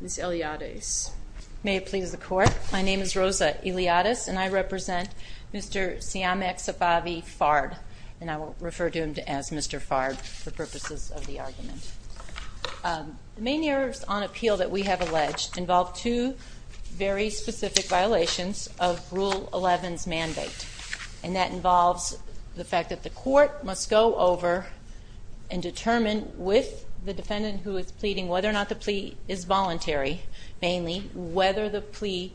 Ms. Eliades. May it please the court. My name is Rosa Eliades and I represent Mr. Siamak Safavi Fard and I will refer to him as Mr. Fard for purposes of the argument. The main errors on appeal that we have alleged involve two very specific violations of Rule 11's mandate and that involves the fact that the court must go over and determine with the defendant who is pleading whether or not the plea is voluntary, mainly whether the plea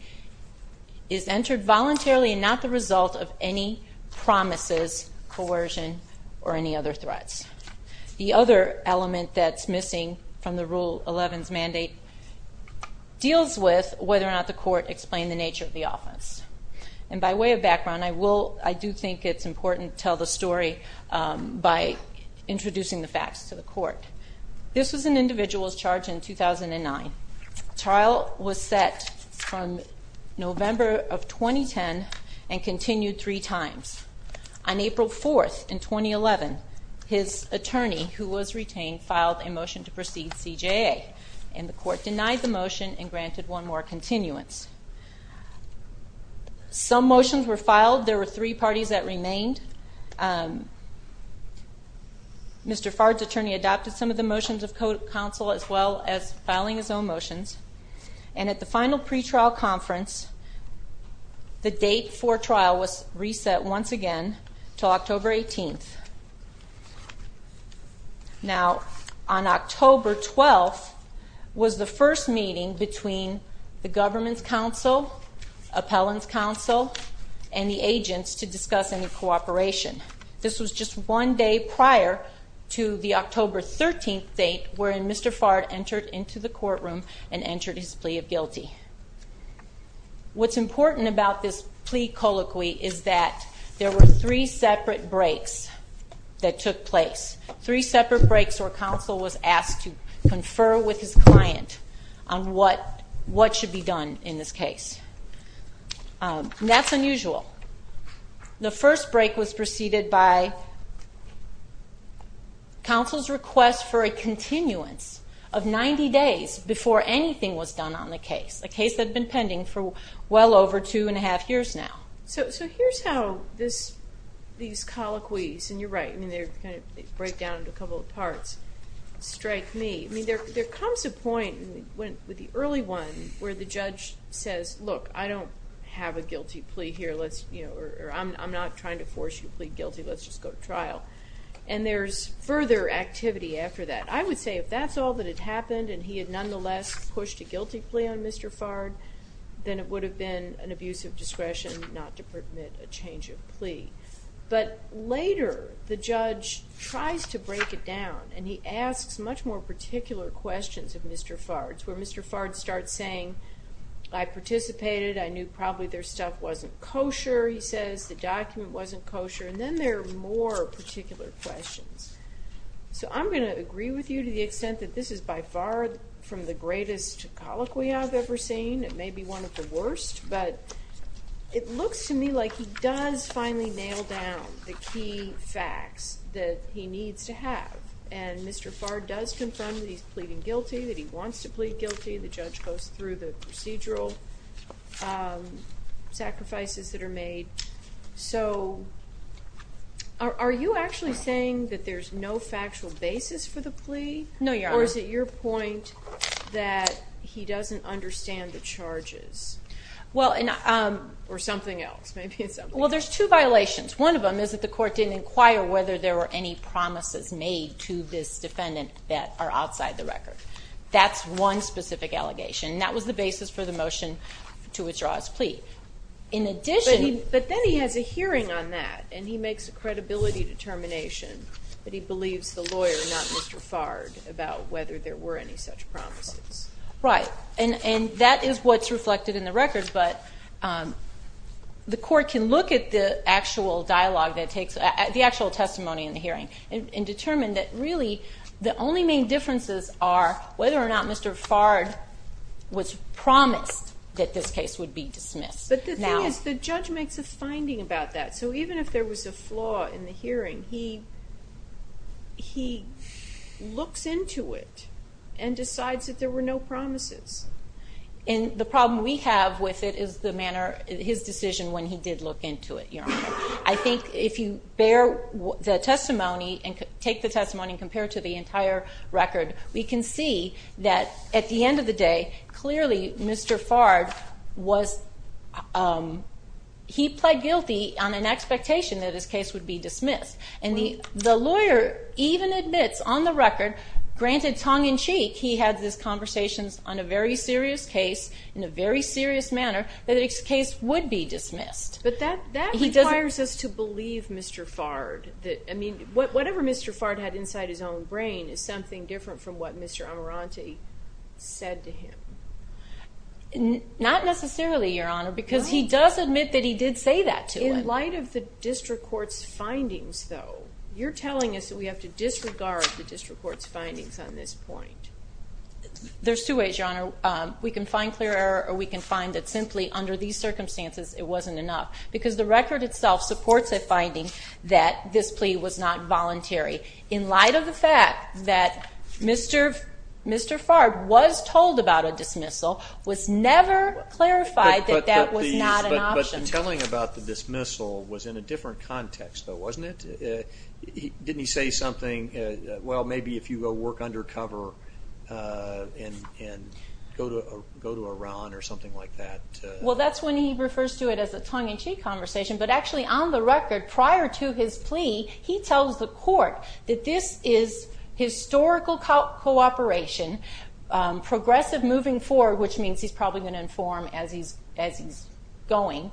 is entered voluntarily and not the result of any promises, coercion, or any other threats. The other element that's missing from the Rule 11's mandate deals with whether or not the court explained the nature of the offense. And by way of background I will, I do think it's important to tell the story by introducing the facts to the court. This was an individual's charge in 2009. Trial was set from November of 2010 and continued three times. On April 4th in 2011 his attorney, who was retained, filed a motion to proceed CJA and the court denied the motion and granted one more continuance. Some motions were filed. There were three parties that remained. Mr. Wood counsel as well as filing his own motions. And at the final pretrial conference the date for trial was reset once again to October 18th. Now on October 12th was the first meeting between the government's counsel, appellant's counsel, and the agents to discuss any cooperation. This was just one day prior to the October 13th date wherein Mr. Fard entered into the courtroom and entered his plea of guilty. What's important about this plea colloquy is that there were three separate breaks that took place. Three separate breaks where counsel was asked to confer with his client on what should be done in this case. That's unusual. The first break was proceeded by counsel's request for a continuance of 90 days before anything was done on the case. A case that had been pending for well over two and a half years now. So here's how these colloquies, and you're right, they break down into a couple of parts, strike me. There comes a point with the early one where the judge says, look I don't have a guilty plea here. I'm not trying to force you to plead guilty. Let's just go to trial. And there's further activity after that. I would say if that's all that had happened and he had nonetheless pushed a guilty plea on Mr. Fard, then it would have been an abuse of discretion not to permit a change of plea. But later the judge tries to break it down and he asks much more particular questions of Mr. Fard. It's where Mr. Fard starts saying, I participated. I knew probably their stuff wasn't kosher, he wasn't kosher. And then there are more particular questions. So I'm going to agree with you to the extent that this is by far from the greatest colloquy I've ever seen. It may be one of the worst, but it looks to me like he does finally nail down the key facts that he needs to have. And Mr. Fard does confirm that he's pleading guilty, that he wants to plead guilty. The judge goes through the procedural sacrifices that are made. So are you actually saying that there's no factual basis for the plea? No, Your Honor. Or is it your point that he doesn't understand the charges? Or something else? Well, there's two violations. One of them is that the court didn't inquire whether there were any promises made to this defendant that are outside the record. That's one specific allegation. And that was the basis for the motion to withdraw his plea. But then he has a hearing on that, and he makes a credibility determination that he believes the lawyer, not Mr. Fard, about whether there were any such promises. Right. And that is what's reflected in the records, but the court can look at the actual dialogue, the actual testimony in the hearing, and determine that really the only main differences are whether or not Mr. Fard was promised that this case would be dismissed. But the thing is, the judge makes a finding about that. So even if there was a flaw in the hearing, he looks into it and decides that there were no promises. And the problem we have with it is the manner, his decision when he did look into it, Your Honor. I think if you bear the testimony and take the testimony and compare to the entire record, we can see that at the end of the day, clearly Mr. Fard was, he pled guilty on an expectation that his case would be dismissed. And the lawyer even admits on the record, granted tongue-in-cheek, he had this conversations on a very serious case, in a very serious manner, that his case would be dismissed. But that requires us to believe Mr. Fard. I mean, whatever Mr. Fard had inside his own brain is something different from what Mr. Amiranti said to him. Not necessarily, Your Honor, because he does admit that he did say that to him. In light of the district court's findings, though, you're telling us that we have to disregard the district court's findings on this point. There's two ways, Your Honor. We can find clear error, or we can find that simply under these circumstances, it wasn't enough. Because the record itself supports a voluntary, in light of the fact that Mr. Fard was told about a dismissal, was never clarified that that was not an option. But the telling about the dismissal was in a different context, though, wasn't it? Didn't he say something, well, maybe if you go work undercover and go to Iran or something like that? Well, that's when he refers to it as a tongue-in-cheek conversation. But actually, on the record, prior to his plea, he tells the court that this is historical cooperation, progressive moving forward, which means he's probably going to inform as he's going.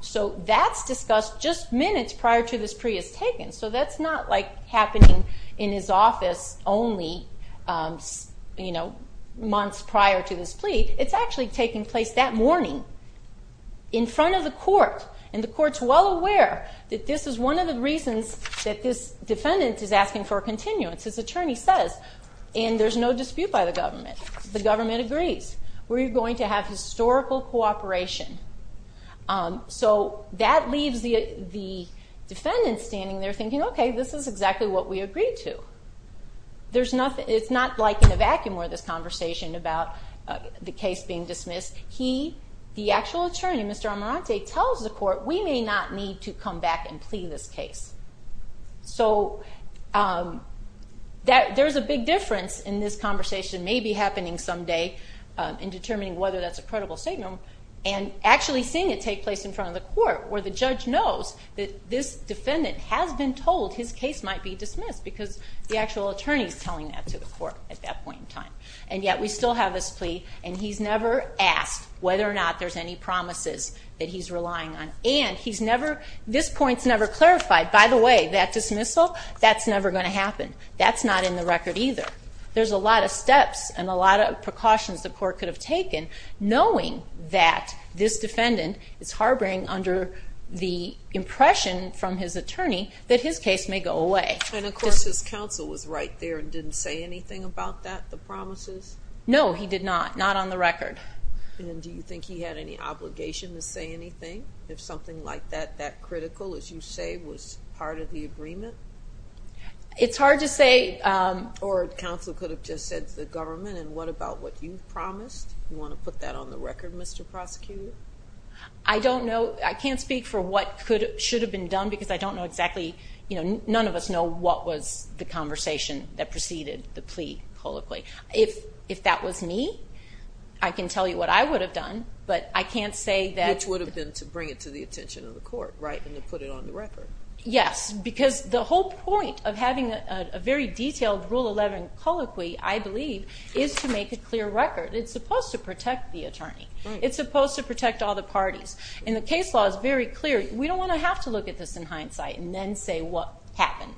So that's discussed just minutes prior to this plea is taken. So that's not like happening in his office only months prior to this plea. It's actually taking place that morning, in front of the court, and the court's well aware that this is one of the reasons that this defendant is asking for a continuance. His attorney says, and there's no dispute by the government, the government agrees. We're going to have historical cooperation. So that leaves the defendant standing there thinking, okay, this is exactly what we agreed to. It's not like in a vacuum where this conversation about the case being dismissed, he, the actual attorney, Mr. Amarante, tells the court, we may not need to come back and plea this case. So there's a big difference in this conversation maybe happening someday in determining whether that's a credible statement, and actually seeing it take place in front of the court where the judge knows that this defendant has been told his case might be dismissed because the actual attorney is telling that to the court at that point in time. And yet we still have this plea, and he's never asked whether or not there's any promises that he's relying on. And he's never, this point's never clarified. By the way, that dismissal, that's never going to happen. That's not in the record either. There's a lot of steps and a lot of precautions the court could have taken knowing that this defendant is harboring under the impression from his attorney that his case may go away. And of course his counsel was right there and didn't say anything about that, the promises? No, he did not. Not on the record. And do you think he had any obligation to say anything if something like that, that critical, as you say, was part of the agreement? It's hard to say. Or counsel could have just said to the government, and what about what you've promised? You want to put that on the record, Mr. Prosecutor? I don't know. I can't speak for what should have been done because I don't know exactly, you know, none of us know what was the conversation that preceded the plea colloquy. If that was me, I can tell you what I would have done, but I can't say that... Which would have been to bring it to the attention of the court, right, and to put it on the record. Yes, because the whole point of having a very detailed Rule 11 colloquy, I believe, is to make a clear record. It's supposed to protect the attorney. It's supposed to protect all the parties. And the case law is very clear. We don't want to have to look at this in hindsight and then say what happened.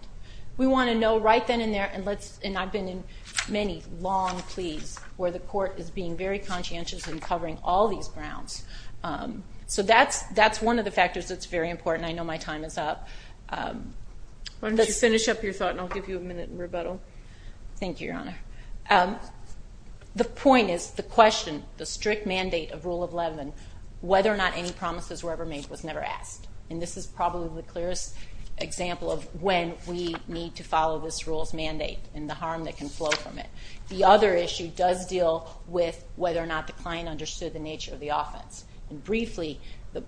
We want to know right then and there, and I've been in many long pleas where the court is being very conscientious in covering all these grounds. So that's one of the factors that's very important. I know my time is up. Why don't you finish up your thought, and I'll give you a minute in rebuttal. Thank you, Your Honor. The point is the question, the strict mandate of Rule 11, whether or not any promises were ever made was never asked. And this is probably the clearest example of when we need to follow this rule's mandate and the harm that can flow from it. The other issue does deal with whether or not the client understood the nature of the offense. And briefly, the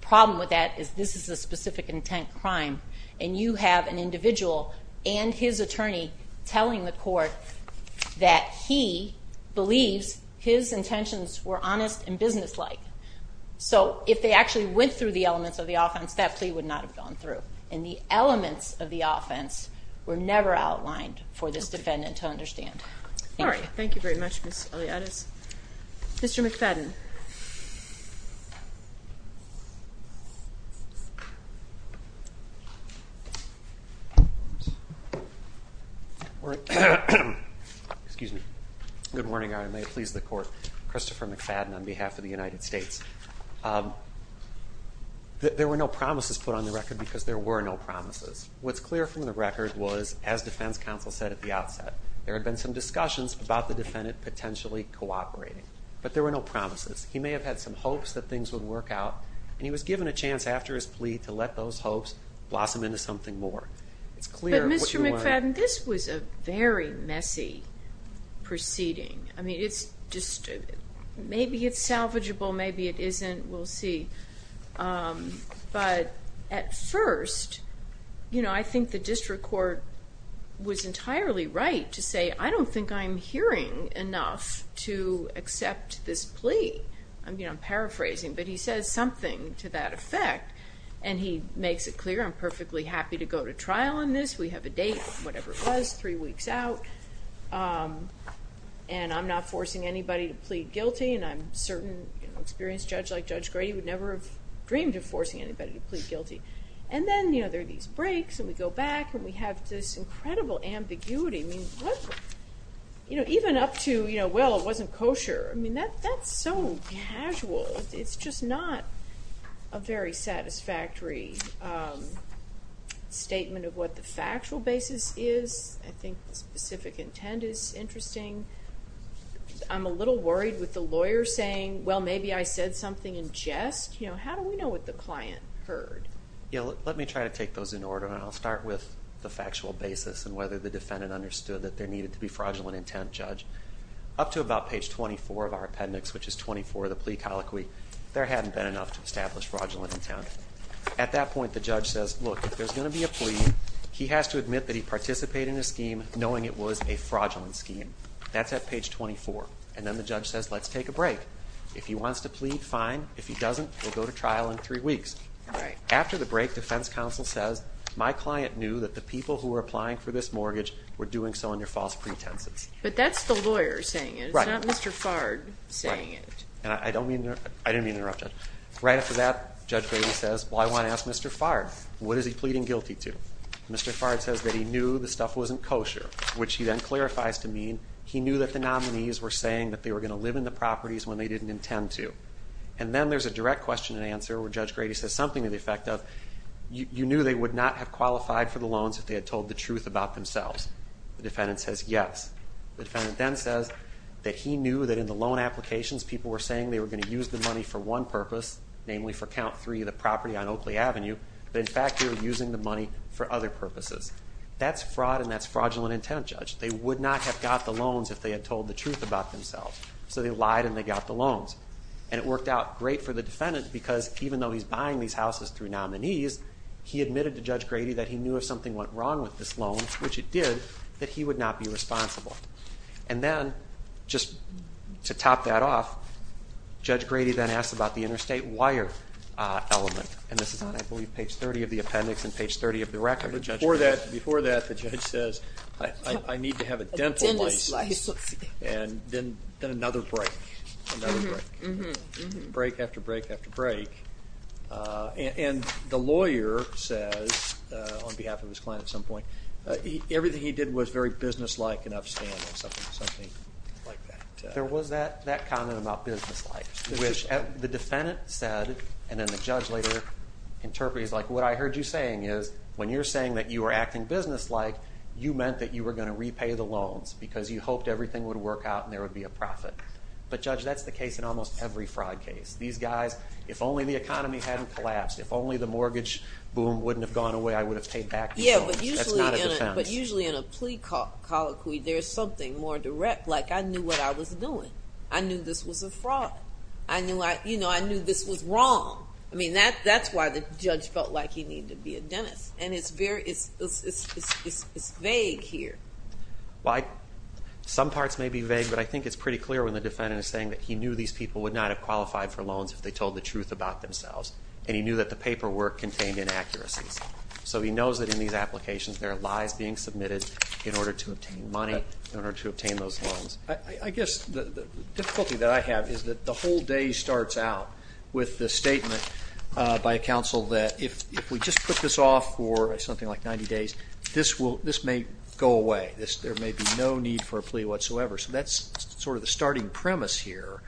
problem with that is this is a specific intent crime, and you have an individual and his attorney telling the court that he believes his intentions were honest and businesslike. So if they actually went through the elements of the offense, that plea would not have gone through. And the elements of the offense were never outlined for this defendant to understand. Thank you. Thank you very much, Ms. Eliades. Mr. McFadden. Excuse me. Good morning, Your Honor. May it please the court. Christopher McFadden on behalf of the United States. There were no promises put on the record because there were no promises. What's clear from the record was, as defense counsel said at the outset, there had been some discussions about the defendant potentially cooperating, but there were no promises. He may have had some hopes that things would work out, and he was given a chance after his plea to let those hopes blossom into something more. But Mr. McFadden, this was a very messy proceeding. I mean, maybe it's salvageable, maybe it isn't. We'll see. But at first, I think the district court was entirely right to say, I don't think I'm hearing enough to accept this plea. I'm paraphrasing, but he says something to that effect, and he makes it clear, I'm perfectly happy to go to trial on this. We have a date, whatever it was, three weeks out, and I'm not forcing anybody to plead guilty, and I'm certain an experienced judge like Judge Grady would never have dreamed of forcing anybody to plead guilty. And then there are these breaks, and we go back, and we have this incredible ambiguity. Even up to, well, it wasn't kosher. That's so casual. It's just not a very satisfactory statement of what the factual basis is. I think the specific intent is interesting. I'm a little worried with the lawyer saying, well, maybe I said something in jest. How do we know what the client heard? Let me try to take those in order, and I'll start with the factual basis and whether the defendant understood that there needed to be fraudulent intent, Judge. Up to about page 24 of our appendix, which is 24 of the plea colloquy, there hadn't been enough to establish fraudulent intent. At that point, the judge says, look, if there's going to be a plea, he has to admit that he participated in a scheme knowing it was a fraudulent scheme. That's at page 24. And then the judge says, let's take a break. If he wants to plead, fine. If he doesn't, we'll go to trial in three weeks. After the break, defense counsel says, my client knew that the people who were applying for this mortgage were doing so under false pretenses. But that's the lawyer saying it. It's not Mr. Fard saying it. I didn't mean to interrupt, Judge. Right after that, Judge Grady says, well, I want to ask Mr. Fard, what is he pleading guilty to? Mr. Fard says that he knew the stuff wasn't kosher, which he then clarifies to mean he knew that the nominees were saying that they were going to live in the properties when they didn't intend to. And then there's a direct question and answer where Judge Grady says something to the effect of you knew they would not have qualified for the loans if they had told the truth about themselves. The defendant says yes. The defendant then says that he knew that in the loan applications people were saying they were going to use the money for one purpose, namely for count three of the property on Oakley Avenue, but in fact they were using the money for other purposes. That's fraud and that's fraudulent intent, Judge. They would not have got the loans if they had told the truth about themselves. So they lied and they got the loans. And it worked out great for the defendant because even though he's buying these houses through nominees, he admitted to Judge Grady that he knew if something went wrong with this loan, which it did, that he would not be responsible. And then just to top that off, Judge Grady then asks about the interstate wire element. And this is on, I believe, page 30 of the appendix and page 30 of the record. Before that, the judge says I need to have a dental license and then another break, another break. Break after break after break. And the lawyer says, on behalf of his client at some point, everything he did was very businesslike and upstanding, something like that. There was that comment about businesslike, which the defendant said, and then the judge later interprets, like what I heard you saying is when you're saying that you were acting businesslike, you meant that you were going to repay the loans because you hoped everything would work out and there would be a profit. But, Judge, that's the case in almost every fraud case. These guys, if only the economy hadn't collapsed, if only the mortgage boom wouldn't have gone away, I would have paid back the loans. That's not a defense. Yeah, but usually in a plea colloquy, there's something more direct, like I knew what I was doing. I knew this was a fraud. I knew this was wrong. I mean, that's why the judge felt like he needed to be a dentist. And it's vague here. Well, some parts may be vague, but I think it's pretty clear when the defendant is saying that he knew these people would not have qualified for loans if they told the truth about themselves and he knew that the paperwork contained inaccuracies. So he knows that in these applications there are lies being submitted in order to obtain money, in order to obtain those loans. I guess the difficulty that I have is that the whole day starts out with the statement by a counsel that if we just put this off for something like 90 days, this may go away. There may be no need for a plea whatsoever. So that's sort of the starting premise here.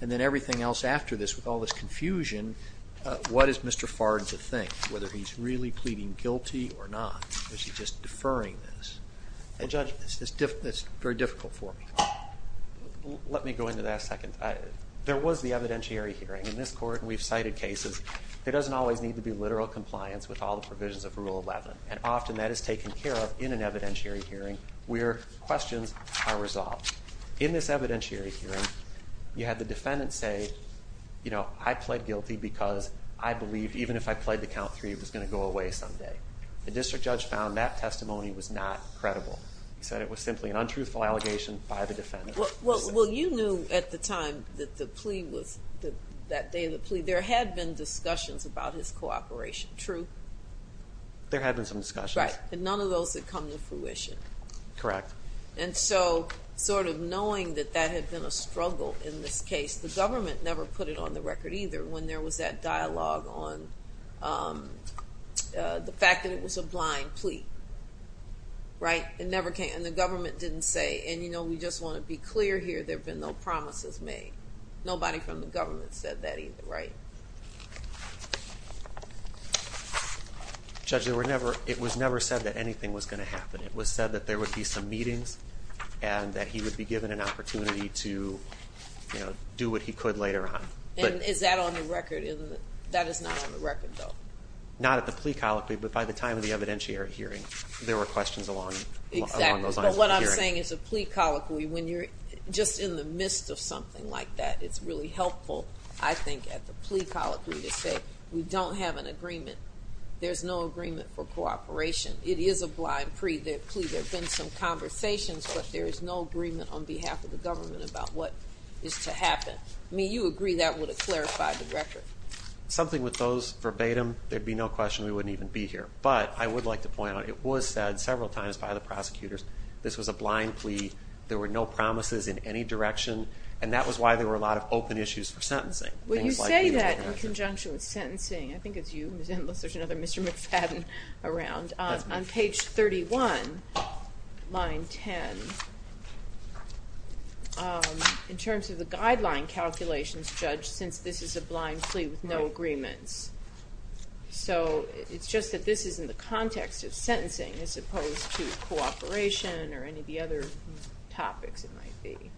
And then everything else after this, with all this confusion, what is Mr. Fard to think, whether he's really pleading guilty or not, or is he just deferring this? Judge, that's very difficult for me. Let me go into that a second. There was the evidentiary hearing in this court, and we've cited cases. There doesn't always need to be literal compliance with all the provisions of Rule 11, and often that is taken care of in an evidentiary hearing where questions are resolved. In this evidentiary hearing, you had the defendant say, you know, I pled guilty because I believed even if I pled to count three it was going to go away someday. The district judge found that testimony was not credible. He said it was simply an untruthful allegation by the defendant. Well, you knew at the time that the plea was, that day of the plea, there had been discussions about his cooperation, true? There had been some discussions. Right, and none of those had come to fruition. Correct. And so sort of knowing that that had been a struggle in this case, the government never put it on the record either when there was that dialogue on the fact that it was a blind plea, right? Right, and the government didn't say, and, you know, we just want to be clear here, there have been no promises made. Nobody from the government said that either, right? Judge, it was never said that anything was going to happen. It was said that there would be some meetings and that he would be given an opportunity to do what he could later on. And is that on the record? That is not on the record, though. Not at the plea colloquy, but by the time of the evidentiary hearing. There were questions along those lines. Exactly, but what I'm saying is a plea colloquy, when you're just in the midst of something like that, it's really helpful, I think, at the plea colloquy to say we don't have an agreement. There's no agreement for cooperation. It is a blind plea. There have been some conversations, but there is no agreement on behalf of the government about what is to happen. I mean, you agree that would have clarified the record. Something with those verbatim, there would be no question we wouldn't even be here. But I would like to point out it was said several times by the prosecutors this was a blind plea. There were no promises in any direction, and that was why there were a lot of open issues for sentencing. Well, you say that in conjunction with sentencing. I think it's you, Ms. Endless. There's another Mr. McFadden around. That's me. On page 31, line 10, in terms of the guideline calculations, Judge, since this is a blind plea with no agreements. So it's just that this is in the context of sentencing as opposed to cooperation or any of the other topics it might be.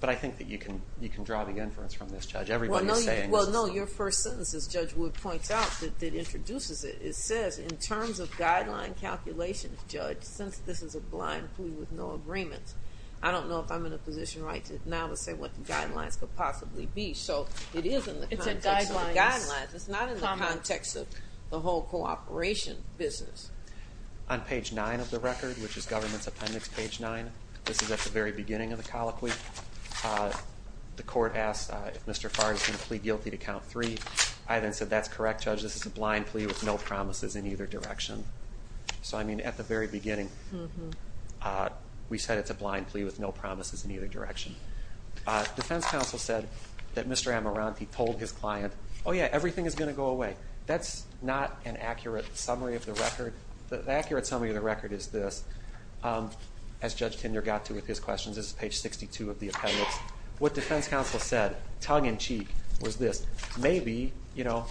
But I think that you can draw the inference from this, Judge. Everybody is saying this is something. Well, no, your first sentence, as Judge Wood points out, that introduces it, it says, in terms of guideline calculations, Judge, since this is a blind plea with no agreements. I don't know if I'm in a position right now to say what the guidelines could possibly be. So it is in the context of the guidelines. It's not in the context of the whole cooperation business. On page 9 of the record, which is government's appendix, page 9, this is at the very beginning of the colloquy. The court asked if Mr. Farr is going to plead guilty to count three. I then said, that's correct, Judge. This is a blind plea with no promises in either direction. So, I mean, at the very beginning, we said it's a blind plea with no promises in either direction. Defense counsel said that Mr. Amiranti told his client, oh, yeah, everything is going to go away. That's not an accurate summary of the record. The accurate summary of the record is this. As Judge Kinder got to with his questions, this is page 62 of the appendix. What defense counsel said, tongue-in-cheek, was this. Maybe, you know,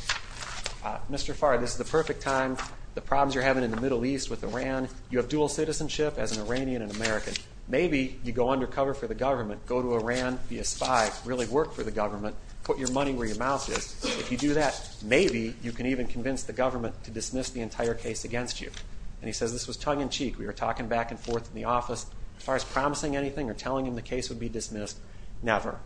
Mr. Farr, this is the perfect time. The problems you're having in the Middle East with Iran, you have dual citizenship as an Iranian and American. Maybe you go undercover for the government, go to Iran, be a spy, really work for the government, put your money where your mouth is. If you do that, maybe you can even convince the government to dismiss the entire case against you. And he says this was tongue-in-cheek. We were talking back and forth in the office. As far as promising anything or telling him the case would be dismissed, never.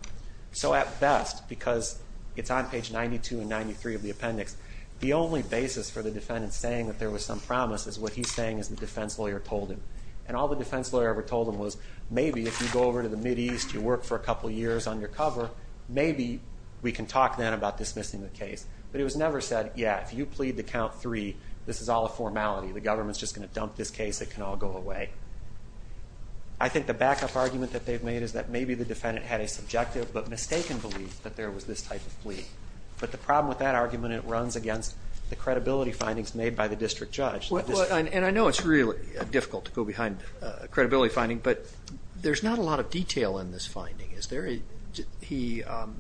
So, at best, because it's on page 92 and 93 of the appendix, the only basis for the defendant saying that there was some promise is what he's saying as the defense lawyer told him. And all the defense lawyer ever told him was, maybe if you go over to the Mideast, you work for a couple years undercover, maybe we can talk then about dismissing the case. But it was never said, yeah, if you plead to count three, this is all a formality. The government's just going to dump this case. It can all go away. I think the backup argument that they've made is that maybe the defendant had a subjective but mistaken belief that there was this type of plea. But the problem with that argument, it runs against the credibility findings made by the district judge. And I know it's really difficult to go behind a credibility finding, but there's not a lot of detail in this finding.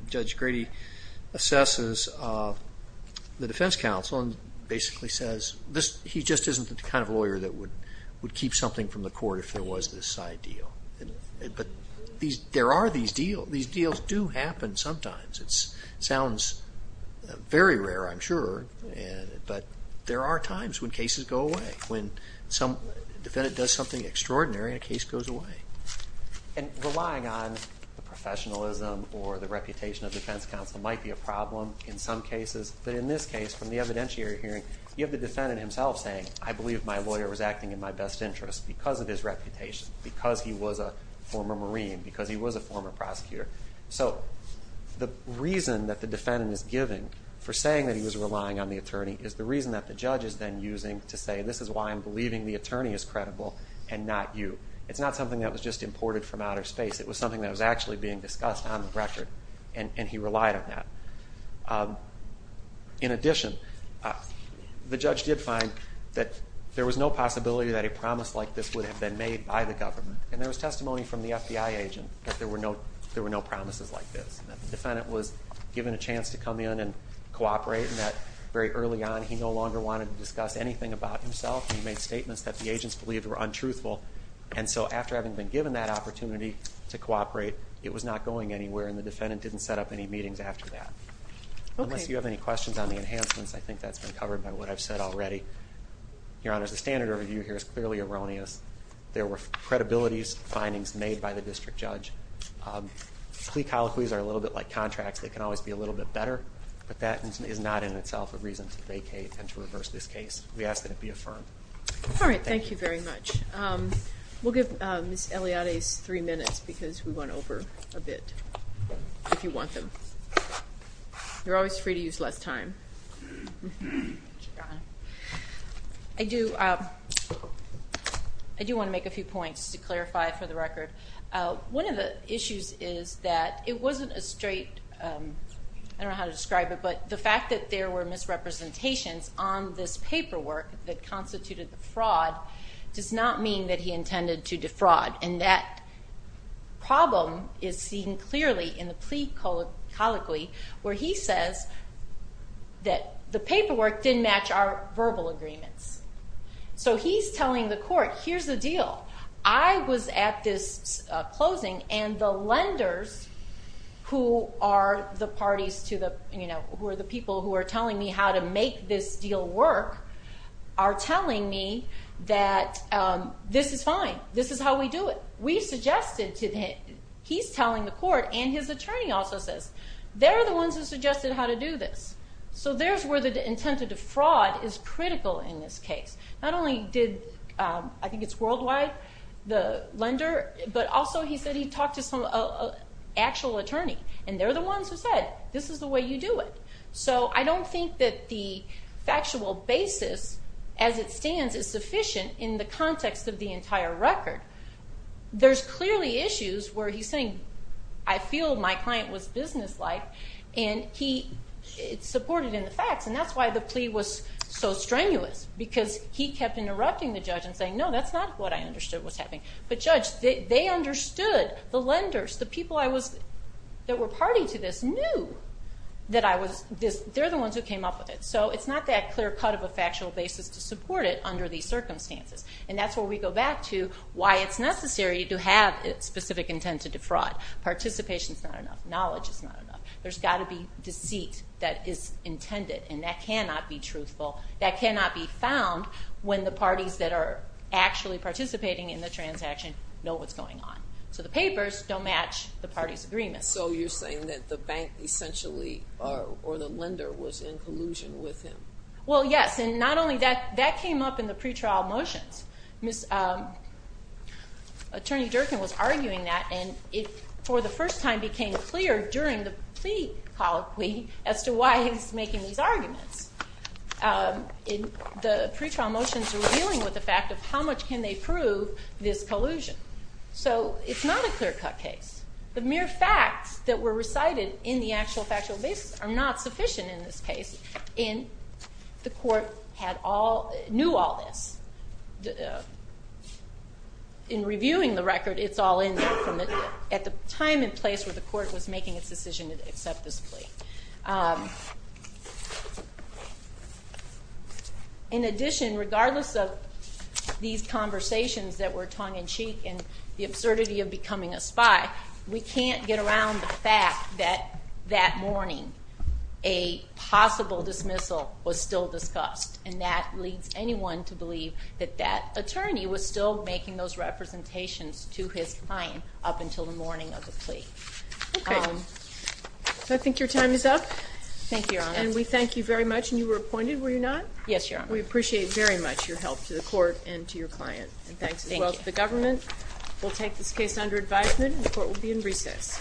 Judge Grady assesses the defense counsel and basically says, he just isn't the kind of lawyer that would keep something from the court if there was this side deal. But there are these deals. These deals do happen sometimes. It sounds very rare, I'm sure, but there are times when cases go away. When a defendant does something extraordinary, a case goes away. And relying on the professionalism or the reputation of defense counsel might be a problem in some cases. But in this case, from the evidentiary hearing, you have the defendant himself saying, I believe my lawyer was acting in my best interest because of his reputation, because he was a former Marine, because he was a former prosecutor. So the reason that the defendant is giving for saying that he was relying on the attorney is the reason that the judge is then using to say, this is why I'm believing the attorney is credible and not you. It's not something that was just imported from outer space. It was something that was actually being discussed on the record, and he relied on that. In addition, the judge did find that there was no possibility that a promise like this would have been made by the government. And there was testimony from the FBI agent that there were no promises like this, that the defendant was given a chance to come in and cooperate, and that very early on he no longer wanted to discuss anything about himself. He made statements that the agents believed were untruthful. And so after having been given that opportunity to cooperate, it was not going anywhere, and the defendant didn't set up any meetings after that. Unless you have any questions on the enhancements, I think that's been covered by what I've said already. Your Honor, the standard review here is clearly erroneous. There were credibility findings made by the district judge. Plea colloquies are a little bit like contracts. They can always be a little bit better, but that is not in itself a reason to vacate and to reverse this case. We ask that it be affirmed. All right, thank you very much. We'll give Ms. Eliade's three minutes because we went over a bit, if you want them. You're always free to use less time. Thank you, Your Honor. I do want to make a few points to clarify for the record. One of the issues is that it wasn't a straight, I don't know how to describe it, but the fact that there were misrepresentations on this paperwork that constituted the fraud does not mean that he intended to defraud. And that problem is seen clearly in the plea colloquy where he says that the paperwork didn't match our verbal agreements. So he's telling the court, here's the deal. I was at this closing, and the lenders who are the parties to the, you know, who are the people who are telling me how to make this deal work are telling me that this is fine. This is how we do it. We suggested to him, he's telling the court, and his attorney also says, they're the ones who suggested how to do this. So there's where the intent to defraud is critical in this case. Not only did, I think it's worldwide, the lender, but also he said he talked to some actual attorney, and they're the ones who said, this is the way you do it. So I don't think that the factual basis as it stands is sufficient in the context of the entire record. There's clearly issues where he's saying, I feel my client was businesslike, and he supported in the facts, and that's why the plea was so strenuous, because he kept interrupting the judge and saying, no, that's not what I understood was happening. But judge, they understood, the lenders, the people that were party to this knew that I was, they're the ones who came up with it. So it's not that clear cut of a factual basis to support it under these circumstances, and that's where we go back to why it's necessary to have specific intent to defraud. Participation is not enough. Knowledge is not enough. There's got to be deceit that is intended, and that cannot be truthful. That cannot be found when the parties that are actually participating in the transaction know what's going on. So the papers don't match the party's agreement. So you're saying that the bank essentially, or the lender, was in collusion with him? Well, yes, and not only that, that came up in the pretrial motions. Attorney Durkin was arguing that, and it, for the first time, became clear during the plea, as to why he's making these arguments. The pretrial motions are dealing with the fact of how much can they prove this collusion. So it's not a clear cut case. The mere facts that were recited in the actual factual basis are not sufficient in this case, and the court knew all this. In reviewing the record, it's all in there at the time and place where the court was making its decision to accept this plea. In addition, regardless of these conversations that were tongue-in-cheek and the absurdity of becoming a spy, we can't get around the fact that that morning a possible dismissal was still discussed, and that leads anyone to believe that that attorney was still making those representations to his client up until the morning of the plea. Okay. I think your time is up. Thank you, Your Honor. And we thank you very much, and you were appointed, were you not? Yes, Your Honor. We appreciate very much your help to the court and to your client. And thanks as well to the government. We'll take this case under advisement, and the court will be in recess.